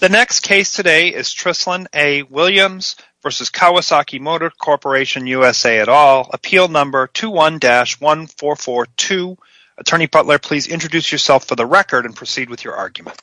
The next case today is Trislin A. Williams v. Kawasaki Motors Corp., U.S.A. Appeal number 21-1442. Attorney Butler, please introduce yourself for the record and proceed with your argument.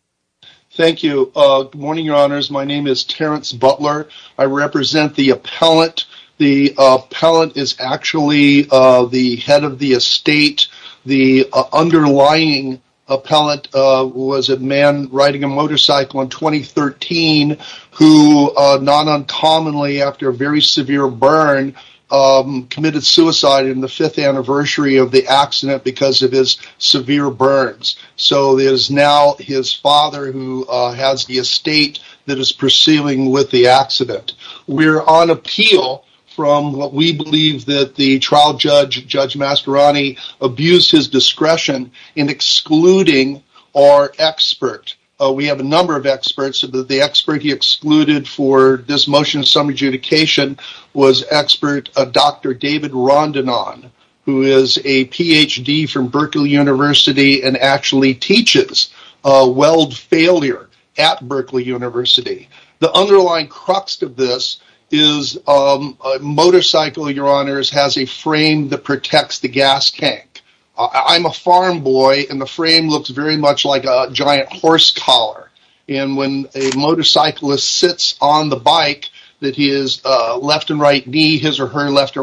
Thank you. Good morning, Your Honors. My name is Terrence Butler. I represent the appellant. The appellant is actually the head of the estate. The underlying appellant was a man riding a motorcycle in 2013, who, not uncommonly after a very severe burn, committed suicide in the fifth anniversary of the accident because of his severe burns. So it is now his father who has the estate that is pursuing with the accident. We are on appeal from what we believe that the trial judge, Judge Masteroni, abused his discretion in excluding our expert. We have a number of experts. The expert he excluded for this motion of summer adjudication was expert Dr. David Rondinon, who is a Ph.D. from Berkeley University and actually teaches weld failure at Berkeley University. The underlying crux of this is a motorcycle, Your Honors, has a frame that protects the gas tank. I'm a farm boy, and the frame looks very much like a giant horse collar. When a motorcyclist sits on the bike, his or her left or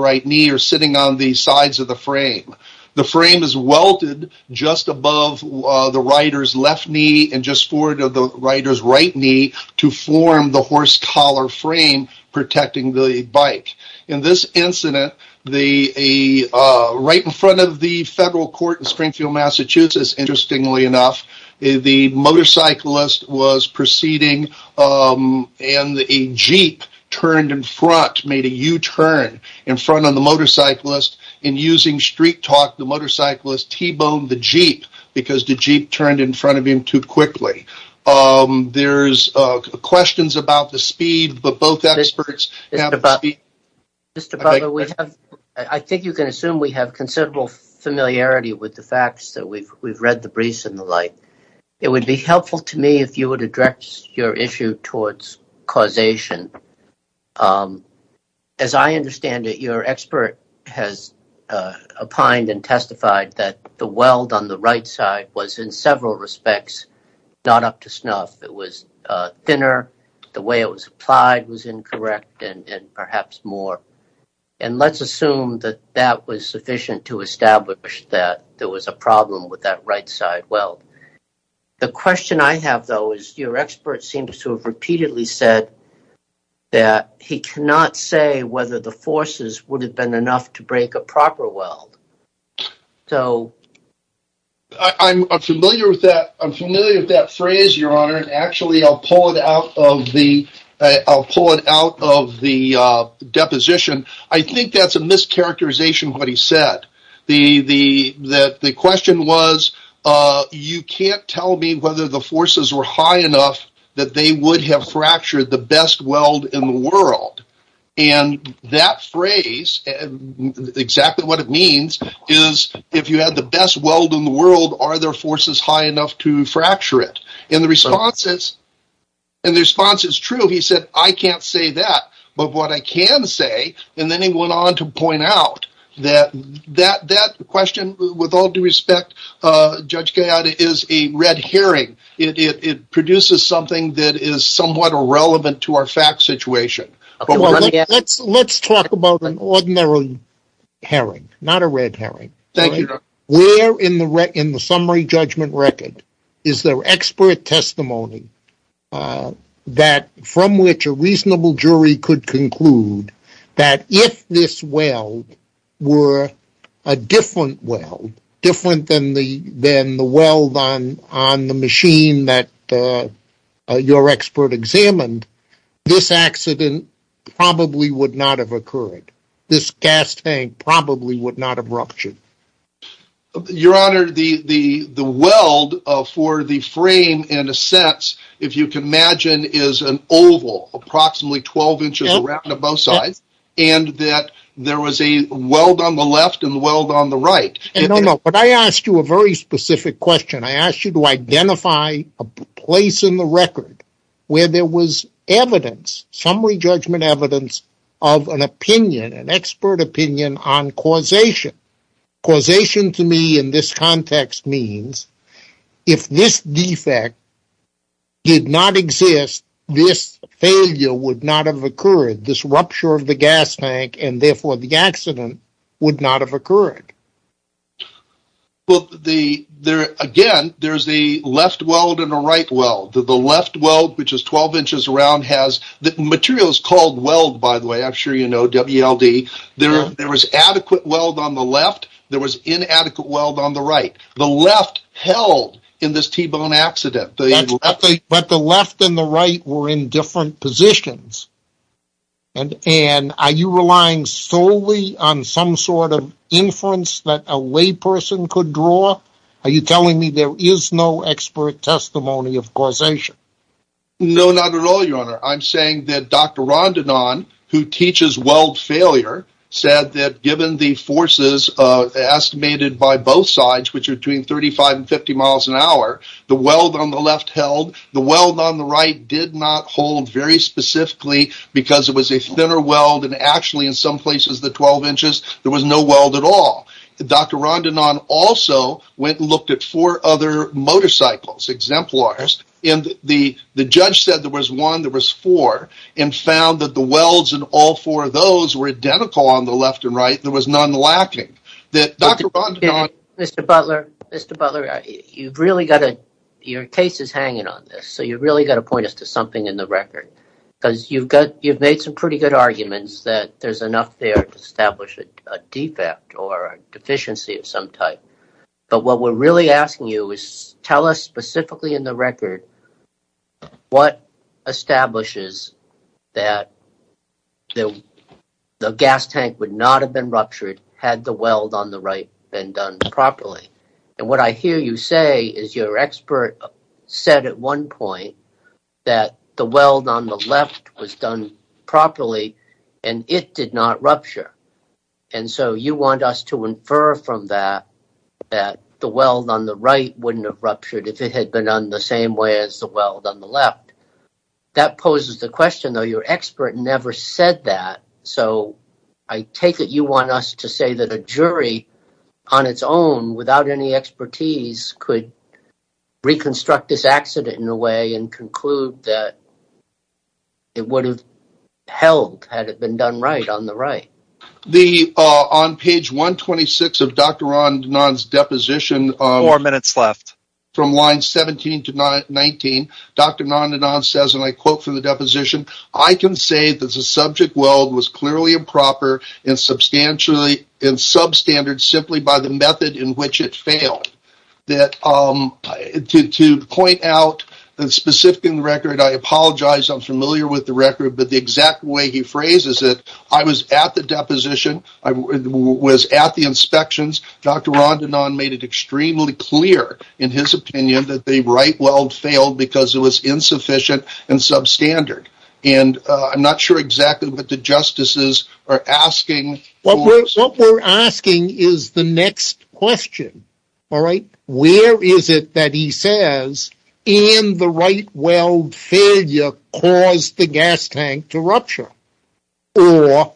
right knee are sitting on the sides of the frame. The frame is welded just above the rider's left knee and just forward of the rider's right knee to form the horse collar frame protecting the bike. In this incident, right in front of the federal court in Springfield, Massachusetts, interestingly enough, the motorcyclist was proceeding and a jeep turned in front, made a U-turn in front of the motorcyclist and using street talk, the motorcyclist T-boned the jeep because the jeep turned in front of him too quickly. There's questions about the speed, but both experts have the speed. Mr. Butler, I think you can assume we have considerable familiarity with the facts. We've read the briefs and the like. It would be helpful to me if you would address your issue towards causation. As I understand it, your expert has opined and testified that the weld on the right side was, in several respects, not up to snuff. It was thinner, the way it was applied was incorrect, and perhaps more. Let's assume that that was sufficient to establish that there was a problem with that right side weld. The question I have, though, is your expert seems to have repeatedly said that he cannot say whether the forces would have been enough to break a proper weld. I'm familiar with that phrase, Your Honor. Actually, I'll pull it out of the deposition. I think that's a mischaracterization of what he said. The question was, you can't tell me whether the forces were high enough that they would have fractured the best weld in the world. That phrase, exactly what it means, is if you had the best weld in the world, are there forces high enough to fracture it? The response is true. He said, I can't say that. But what I can say, and then he went on to point out, that that question, with all due respect, Judge Gallaudet, is a red herring. It produces something that is somewhat irrelevant to our fact situation. Let's talk about an ordinary herring, not a red herring. Where in the summary judgment record is there expert testimony from which a reasonable jury could conclude that if this weld were a different weld, different than the weld on the machine that your expert examined, this accident probably would not have occurred. This gas tank probably would not have ruptured. Your Honor, the weld for the frame, in a sense, if you can imagine, is an oval, approximately 12 inches around on both sides, and that there was a weld on the left and a weld on the right. No, no, but I asked you a very specific question. I asked you to identify a place in the record where there was evidence, summary judgment evidence, of an opinion, an expert opinion on causation. Causation to me in this context means, if this defect did not exist, this failure would not have occurred, this rupture of the gas tank, and therefore the accident would not have occurred. Again, there's a left weld and a right weld. The left weld, which is 12 inches around, has materials called weld, by the way. I'm sure you know WLD. There was adequate weld on the left. There was inadequate weld on the right. The left held in this T-bone accident. But the left and the right were in different positions. And are you relying solely on some sort of inference that a layperson could draw? Are you telling me there is no expert testimony of causation? No, not at all, Your Honor. I'm saying that Dr. Rondinon, who teaches weld failure, said that given the forces estimated by both sides, which are between 35 and 50 miles an hour, the weld on the left held. The weld on the right did not hold very specifically because it was a thinner weld. And actually, in some places, the 12 inches, there was no weld at all. Dr. Rondinon also went and looked at four other motorcycles, exemplars. And the judge said there was one, there was four, and found that the welds in all four of those were identical on the left and right. There was none lacking. Mr. Butler, Mr. Butler, your case is hanging on this, so you've really got to point us to something in the record. Because you've made some pretty good arguments that there's enough there to establish a defect or a deficiency of some type. But what we're really asking you is tell us specifically in the record what establishes that the gas tank would not have been ruptured had the weld on the right been done properly. And what I hear you say is your expert said at one point that the weld on the left was done properly and it did not rupture. And so you want us to infer from that that the weld on the right wouldn't have ruptured if it had been done the same way as the weld on the left. That poses the question, though your expert never said that. So I take it you want us to say that a jury on its own without any expertise could reconstruct this accident in a way and conclude that it would have held had it been done right on the right. On page 126 of Dr. Rondinon's deposition, from line 17 to 19, Dr. Rondinon says, and I quote from the deposition, I can say that the subject weld was clearly improper and substandard simply by the method in which it failed. To point out specifically in the record, I apologize, I'm familiar with the record, but the exact way he phrases it, I was at the deposition, I was at the inspections, Dr. Rondinon made it extremely clear in his opinion that the right weld failed because it was insufficient and substandard. And I'm not sure exactly what the justices are asking. What we're asking is the next question, all right? Where is it that he says, and the right weld failure caused the gas tank to rupture? Or,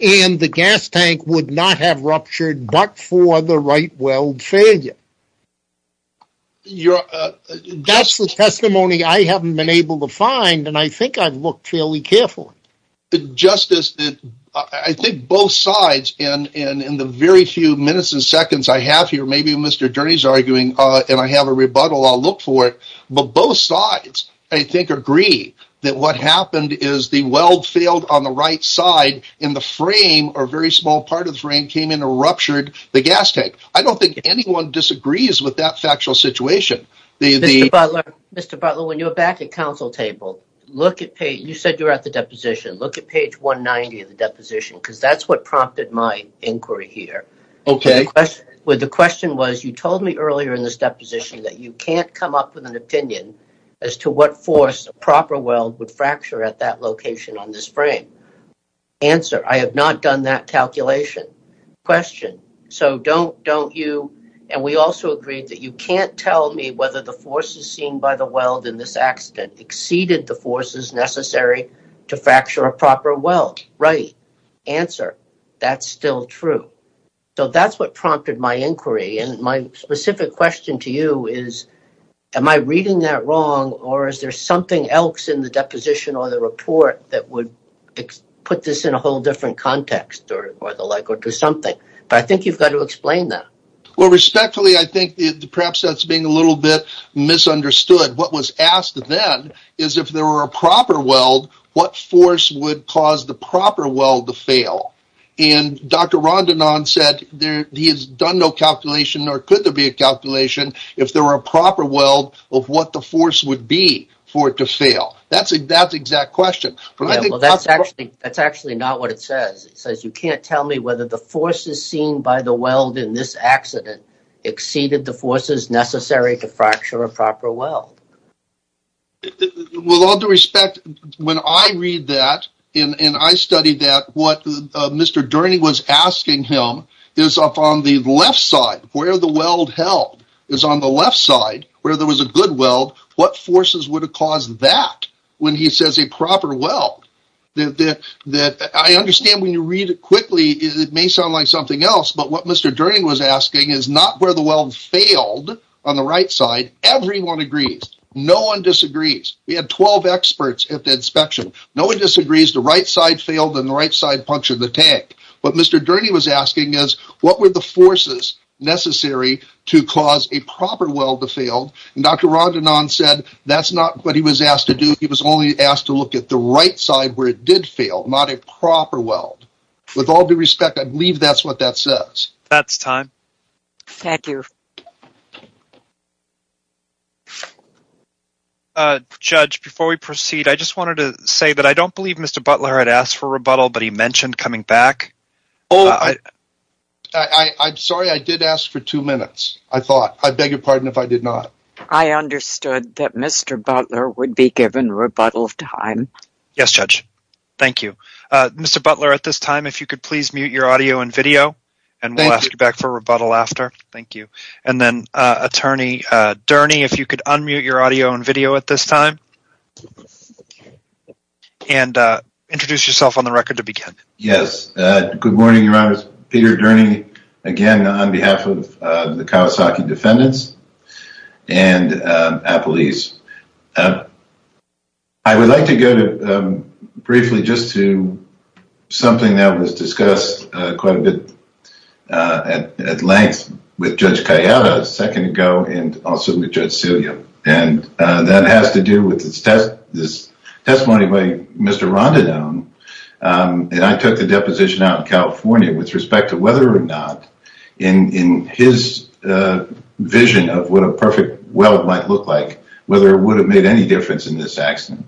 and the gas tank would not have ruptured but for the right weld failure? That's the testimony I haven't been able to find, and I think I've looked fairly carefully. Justice, I think both sides, and in the very few minutes and seconds I have here, maybe Mr. Durney's arguing, and I have a rebuttal, I'll look for it, but both sides, I think, agree that what happened is the weld failed on the right side, and the frame, or very small part of the frame, came in and ruptured the gas tank. I don't think anyone disagrees with that factual situation. Mr. Butler, when you're back at council table, you said you were at the deposition. Look at page 190 of the deposition, because that's what prompted my inquiry here. The question was, you told me earlier in this deposition that you can't come up with an opinion as to what force a proper weld would fracture at that location on this frame. Answer, I have not done that calculation. Question, so don't you, and we also agreed that you can't tell me whether the forces seen by the weld in this accident exceeded the forces necessary to fracture a proper weld. Right. Answer, that's still true. So that's what prompted my inquiry, and my specific question to you is, am I reading that wrong, or is there something else in the deposition or the report that would put this in a whole different context, or the like, or do something? But I think you've got to explain that. Well, respectfully, I think perhaps that's being a little bit misunderstood. What was asked then is, if there were a proper weld, what force would cause the proper weld to fail? And Dr. Rondinon said he has done no calculation, nor could there be a calculation, if there were a proper weld, of what the force would be for it to fail. That's the exact question. Well, that's actually not what it says. It says you can't tell me whether the forces seen by the weld in this accident exceeded the forces necessary to fracture a proper weld. Well, with all due respect, when I read that, and I studied that, what Mr. Durney was asking him is up on the left side, where the weld held, is on the left side, where there was a good weld, what forces would have caused that when he says a proper weld? I understand when you read it quickly, it may sound like something else, but what Mr. Durney was asking is not where the weld failed on the right side. Everyone agrees. No one disagrees. We had 12 experts at the inspection. No one disagrees the right side failed and the right side punctured the tank. What Mr. Durney was asking is, what were the forces necessary to cause a proper weld to fail? Dr. Rondinon said that's not what he was asked to do. He was only asked to look at the right side where it did fail, not a proper weld. With all due respect, I believe that's what that says. That's time. Thank you. Judge, before we proceed, I just wanted to say that I don't believe Mr. Butler had asked for rebuttal, but he mentioned coming back. I'm sorry, I did ask for two minutes, I thought. I beg your pardon if I did not. I understood that Mr. Butler would be given rebuttal time. Yes, Judge. Thank you. Mr. Butler, at this time, if you could please mute your audio and video, and we'll ask you back for rebuttal after. Thank you. And then, Attorney Durney, if you could unmute your audio and video at this time and introduce yourself on the record to begin. Yes. Good morning, Your Honors. Peter Durney, again, on behalf of the Kawasaki Defendants and Apple East. I would like to go briefly just to something that was discussed quite a bit at length with Judge Calleja a second ago and also with Judge Celia. And that has to do with this testimony by Mr. Rondinone. And I took the deposition out in California with respect to whether or not, in his vision of what a perfect well might look like, whether it would have made any difference in this accident.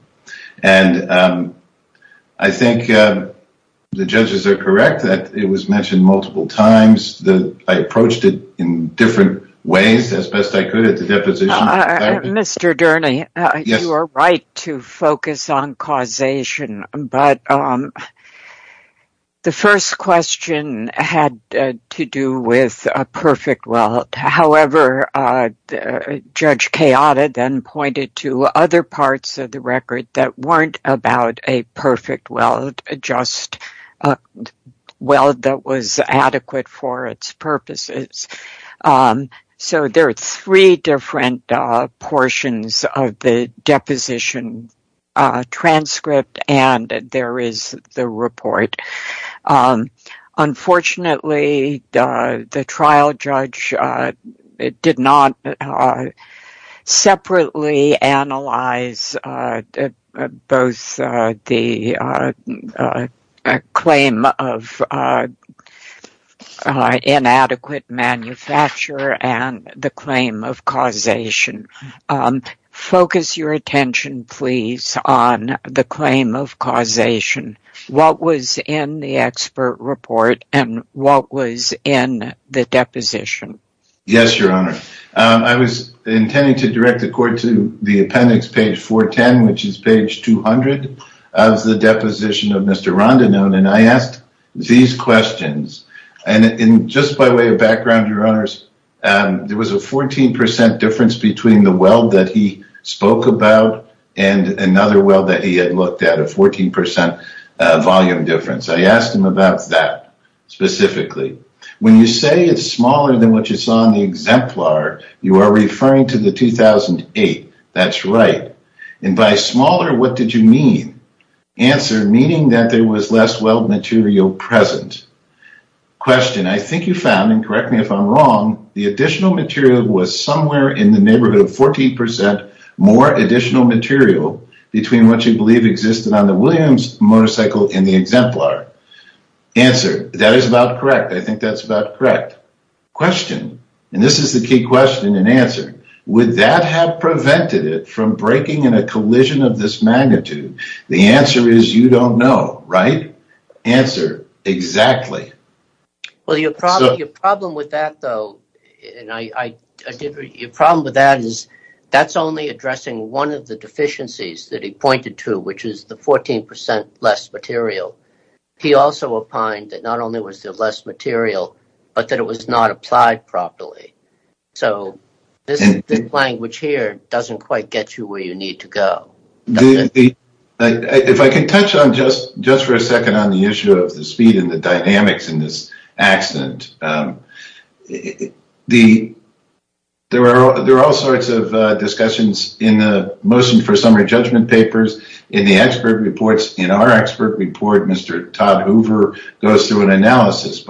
And I think the judges are correct that it was mentioned multiple times that I approached it in different ways as best I could at the deposition. Mr. Durney, you are right to focus on causation. But the first question had to do with a perfect well. However, Judge Calleja then pointed to other parts of the record that weren't about a perfect well, just a well that was adequate for its purposes. So there are three different portions of the deposition transcript, and there is the report. Unfortunately, the trial judge did not separately analyze both the claim of inadequate manufacture and the claim of causation. Focus your attention, please, on the claim of causation. What was in the expert report and what was in the deposition? Yes, Your Honor. I was intending to direct the court to the appendix, page 410, which is page 200 of the deposition of Mr. Rondinone. And I asked these questions. And just by way of background, Your Honors, there was a 14% difference between the well that he spoke about and another well that he had looked at, a 14% volume difference. I asked him about that specifically. When you say it's smaller than what you saw in the exemplar, you are referring to the 2008. That's right. And by smaller, what did you mean? Answer, meaning that there was less well material present. Question, I think you found, and correct me if I'm wrong, the additional material was somewhere in the neighborhood of 14% more additional material between what you believe existed on the Williams motorcycle and the exemplar. Answer, that is about correct. I think that's about correct. And this is the key question and answer. Would that have prevented it from breaking in a collision of this magnitude? The answer is you don't know, right? Answer, exactly. Your problem with that, though, is that's only addressing one of the deficiencies that he pointed to, which is the 14% less material. He also opined that not only was there less material, but that it was not applied properly. So this language here doesn't quite get you where you need to go. If I can touch on just for a second on the issue of the speed and the dynamics in this accident, there are all sorts of discussions in the motion for summary judgment papers, in the expert reports. In our expert report, Mr. Todd Hoover goes through an analysis.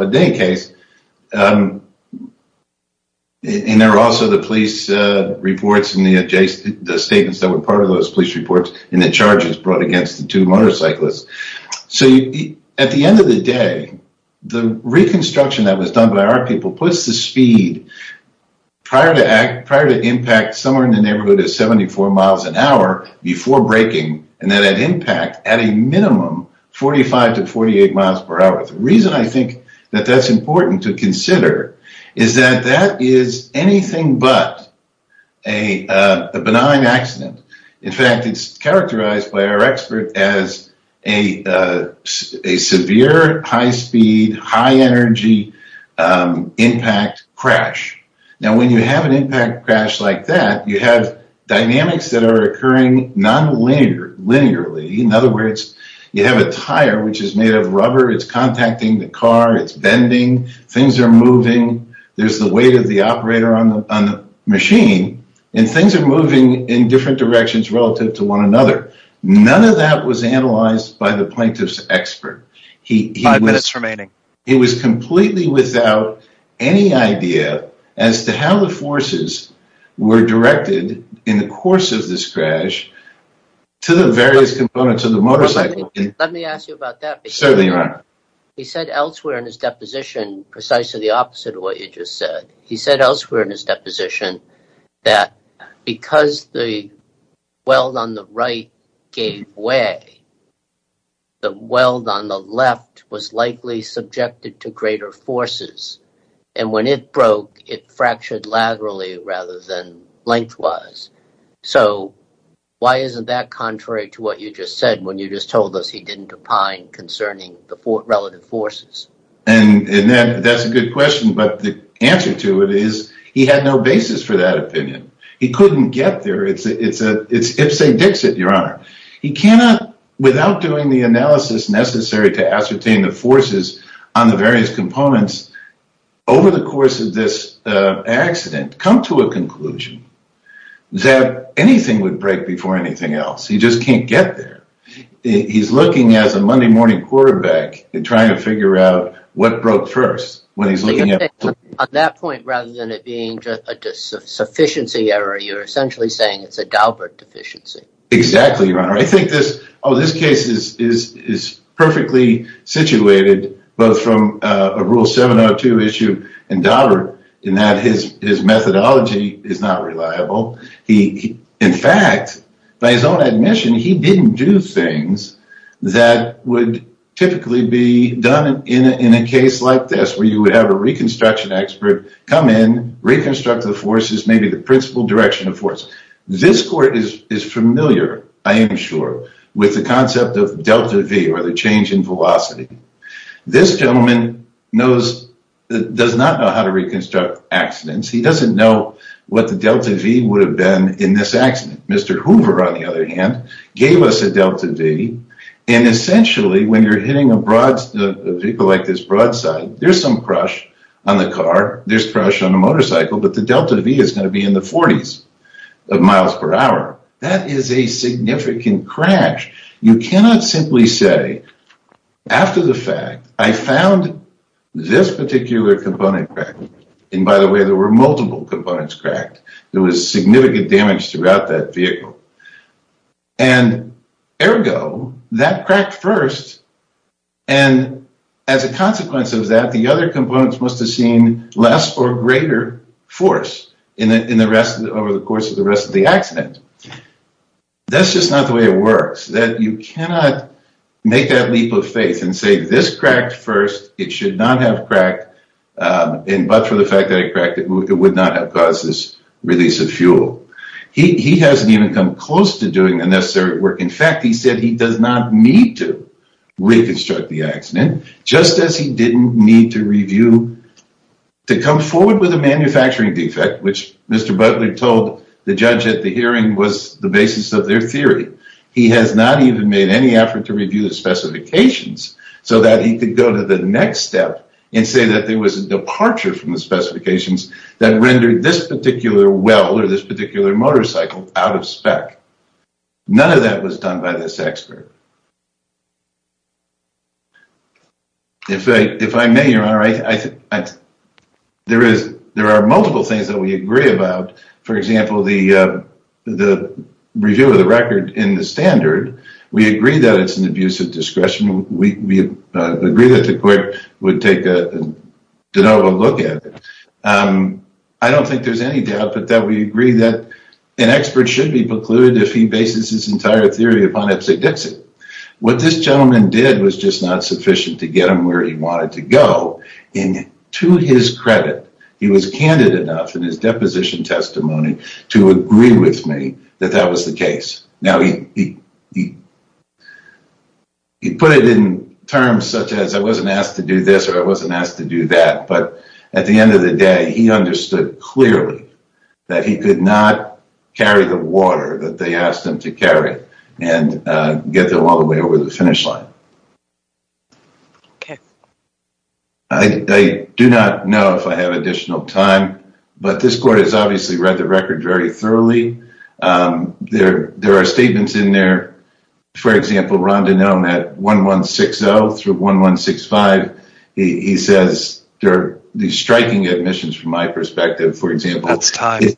And there are also the police reports and the statements that were part of those police reports and the charges brought against the two motorcyclists. So at the end of the day, the reconstruction that was done by our people puts the speed prior to impact somewhere in the neighborhood of 74 miles an hour before breaking and then at impact at a minimum 45 to 48 miles per hour. The reason I think that that's important to consider is that that is anything but a benign accident. In fact, it's characterized by our expert as a severe high-speed, high-energy impact crash. Now, when you have an impact crash like that, you have dynamics that are occurring nonlinearly. In other words, you have a tire which is made of rubber. It's contacting the car. It's bending. Things are moving. There's the weight of the operator on the machine, and things are moving in different directions relative to one another. It was completely without any idea as to how the forces were directed in the course of this crash to the various components of the motorcycle. Certainly, Your Honor. He said elsewhere in his deposition precisely the opposite of what you just said. He said elsewhere in his deposition that because the weld on the right gave way, the weld on the left was likely subjected to greater forces. And when it broke, it fractured laterally rather than lengthwise. So, why isn't that contrary to what you just said when you just told us he didn't opine concerning the relative forces? And that's a good question, but the answer to it is he had no basis for that opinion. He couldn't get there. It's Ipsi Dixit, Your Honor. He cannot, without doing the analysis necessary to ascertain the forces on the various components, over the course of this accident, come to a conclusion that anything would break before anything else. He just can't get there. He's looking as a Monday morning quarterback and trying to figure out what broke first. On that point, rather than it being a sufficiency error, you're essentially saying it's a Daubert deficiency. Exactly, Your Honor. I think this case is perfectly situated both from a Rule 702 issue and Daubert in that his methodology is not reliable. In fact, by his own admission, he didn't do things that would typically be done in a case like this where you would have a reconstruction expert come in, reconstruct the forces, maybe the principal direction of force. This court is familiar, I am sure, with the concept of Delta V or the change in velocity. This gentleman does not know how to reconstruct accidents. He doesn't know what the Delta V would have been in this accident. Mr. Hoover, on the other hand, gave us a Delta V. And essentially, when you're hitting a vehicle like this broadside, there's some crush on the car, there's crush on the motorcycle, but the Delta V is going to be in the 40s. That is a significant crash. You cannot simply say, after the fact, I found this particular component cracked. And by the way, there were multiple components cracked. There was significant damage throughout that vehicle. And ergo, that cracked first, and as a consequence of that, the other components must have seen less or greater force over the course of the rest of the accident. That's just not the way it works. You cannot make that leap of faith and say this cracked first, it should not have cracked, but for the fact that it cracked, it would not have caused this release of fuel. He hasn't even come close to doing the necessary work. In fact, he said he does not need to reconstruct the accident, just as he didn't need to review to come forward with a manufacturing defect, which Mr. Butler told the judge at the hearing was the basis of their theory. He has not even made any effort to review the specifications so that he could go to the next step and say that there was a departure from the specifications that rendered this particular well or this particular motorcycle out of spec. None of that was done by this expert. If I may, Your Honor, there are multiple things that we agree about. For example, the review of the record in the standard, we agree that it's an abuse of discretion. We agree that the court would take a de novo look at it. I don't think there's any doubt that we agree that an expert should be precluded if he bases his entire theory upon Epstein-Dixon. What this gentleman did was just not sufficient to get him where he wanted to go. To his credit, he was candid enough in his deposition testimony to agree with me that that was the case. Now, he put it in terms such as I wasn't asked to do this or I wasn't asked to do that, but at the end of the day, he understood clearly that he could not carry the water that they asked him to carry and get them all the way over the finish line. I do not know if I have additional time, but this court has obviously read the record very thoroughly. There are statements in there. For example, Rondinone at 1160 through 1165, he says there are striking admissions from my perspective. For example, it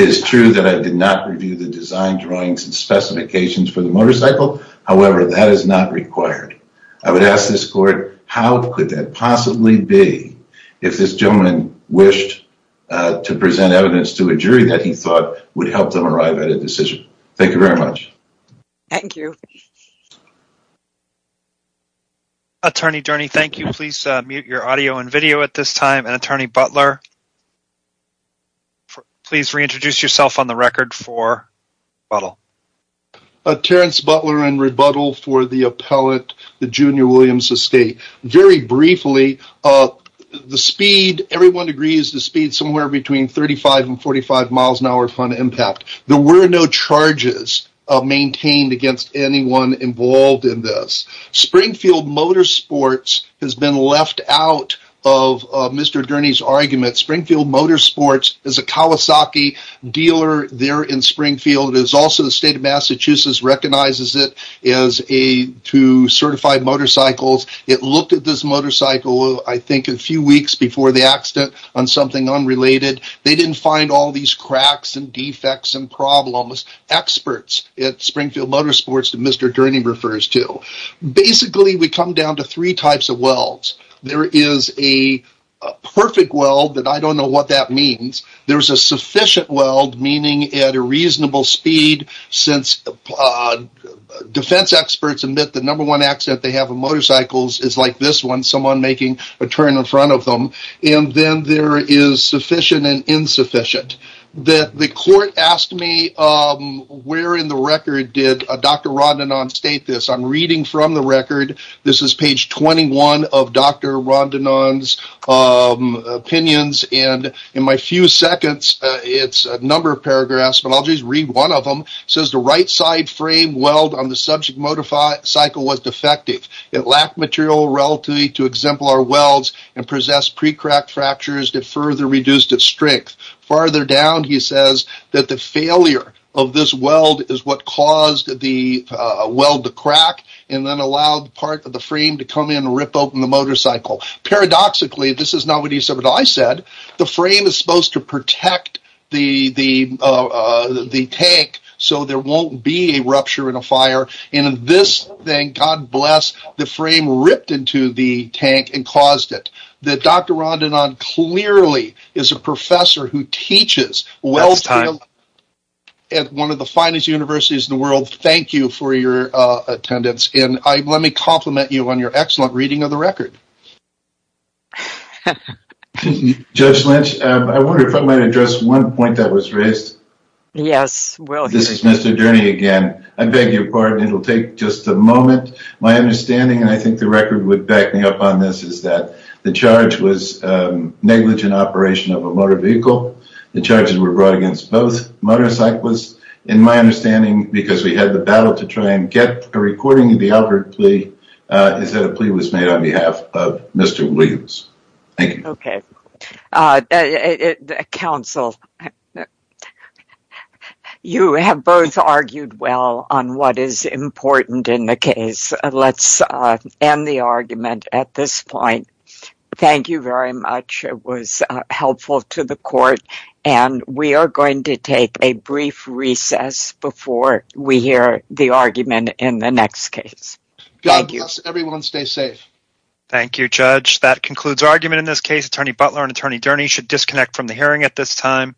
is true that I did not review the design drawings and specifications for the motorcycle. However, that is not required. I would ask this court, how could that possibly be if this gentleman wished to present evidence to a jury that he thought would help them arrive at a decision? Thank you very much. Thank you. Attorney Durney, thank you. Please mute your audio and video at this time. And, Attorney Butler, please reintroduce yourself on the record for rebuttal. Terrence Butler in rebuttal for the appellate, the Junior Williams estate. Very briefly, the speed, everyone agrees the speed is somewhere between 35 and 45 miles an hour on impact. There were no charges maintained against anyone involved in this. Springfield Motorsports has been left out of Mr. Durney's argument. Springfield Motorsports is a Kawasaki dealer there in Springfield. Also, the state of Massachusetts recognizes it as two certified motorcycles. It looked at this motorcycle, I think, a few weeks before the accident on something unrelated. They didn't find all these cracks and defects and problems. Experts at Springfield Motorsports that Mr. Durney refers to. Basically, we come down to three types of welds. There is a perfect weld, but I don't know what that means. There's a sufficient weld, meaning at a reasonable speed, since defense experts admit the number one accident they have with motorcycles is like this one, someone making a turn in front of them. And then there is sufficient and insufficient. The court asked me where in the record did Dr. Rodnanon state this. I'm reading from the record. This is page 21 of Dr. Rodnanon's opinions. In my few seconds, it's a number of paragraphs, but I'll just read one of them. It says the right side frame weld on the subject motorcycle was defective. It lacked material relatively to exemplar welds and possessed pre-cracked fractures that further reduced its strength. Farther down, he says that the failure of this weld is what caused the weld to crack and then allowed part of the frame to come in and rip open the motorcycle. Paradoxically, this is not what he said, but I said, the frame is supposed to protect the tank so there won't be a rupture in a fire, and in this thing, God bless, the frame ripped into the tank and caused it. Dr. Rodnanon clearly is a professor who teaches welding at one of the finest universities in the world. Thank you for your attendance, and let me compliment you on your excellent reading of the record. Judge Lynch, I wonder if I might address one point that was raised. Yes. This is Mr. Durney again. I beg your pardon. It will take just a moment. My understanding, and I think the record would back me up on this, is that the charge was negligent operation of a motor vehicle. The charges were brought against both motorcyclists. In my understanding, because we had the ballot to try and get a recording of the outward plea, is that a plea was made on behalf of Mr. Williams. Thank you. Okay. Counsel, you have both argued well on what is important in the case. Let's end the argument at this point. Thank you very much. It was helpful to the court. We are going to take a brief recess before we hear the argument in the next case. God bless everyone. Stay safe. Thank you, Judge. That concludes our argument in this case. Attorney Butler and Attorney Durney should disconnect from the hearing at this time.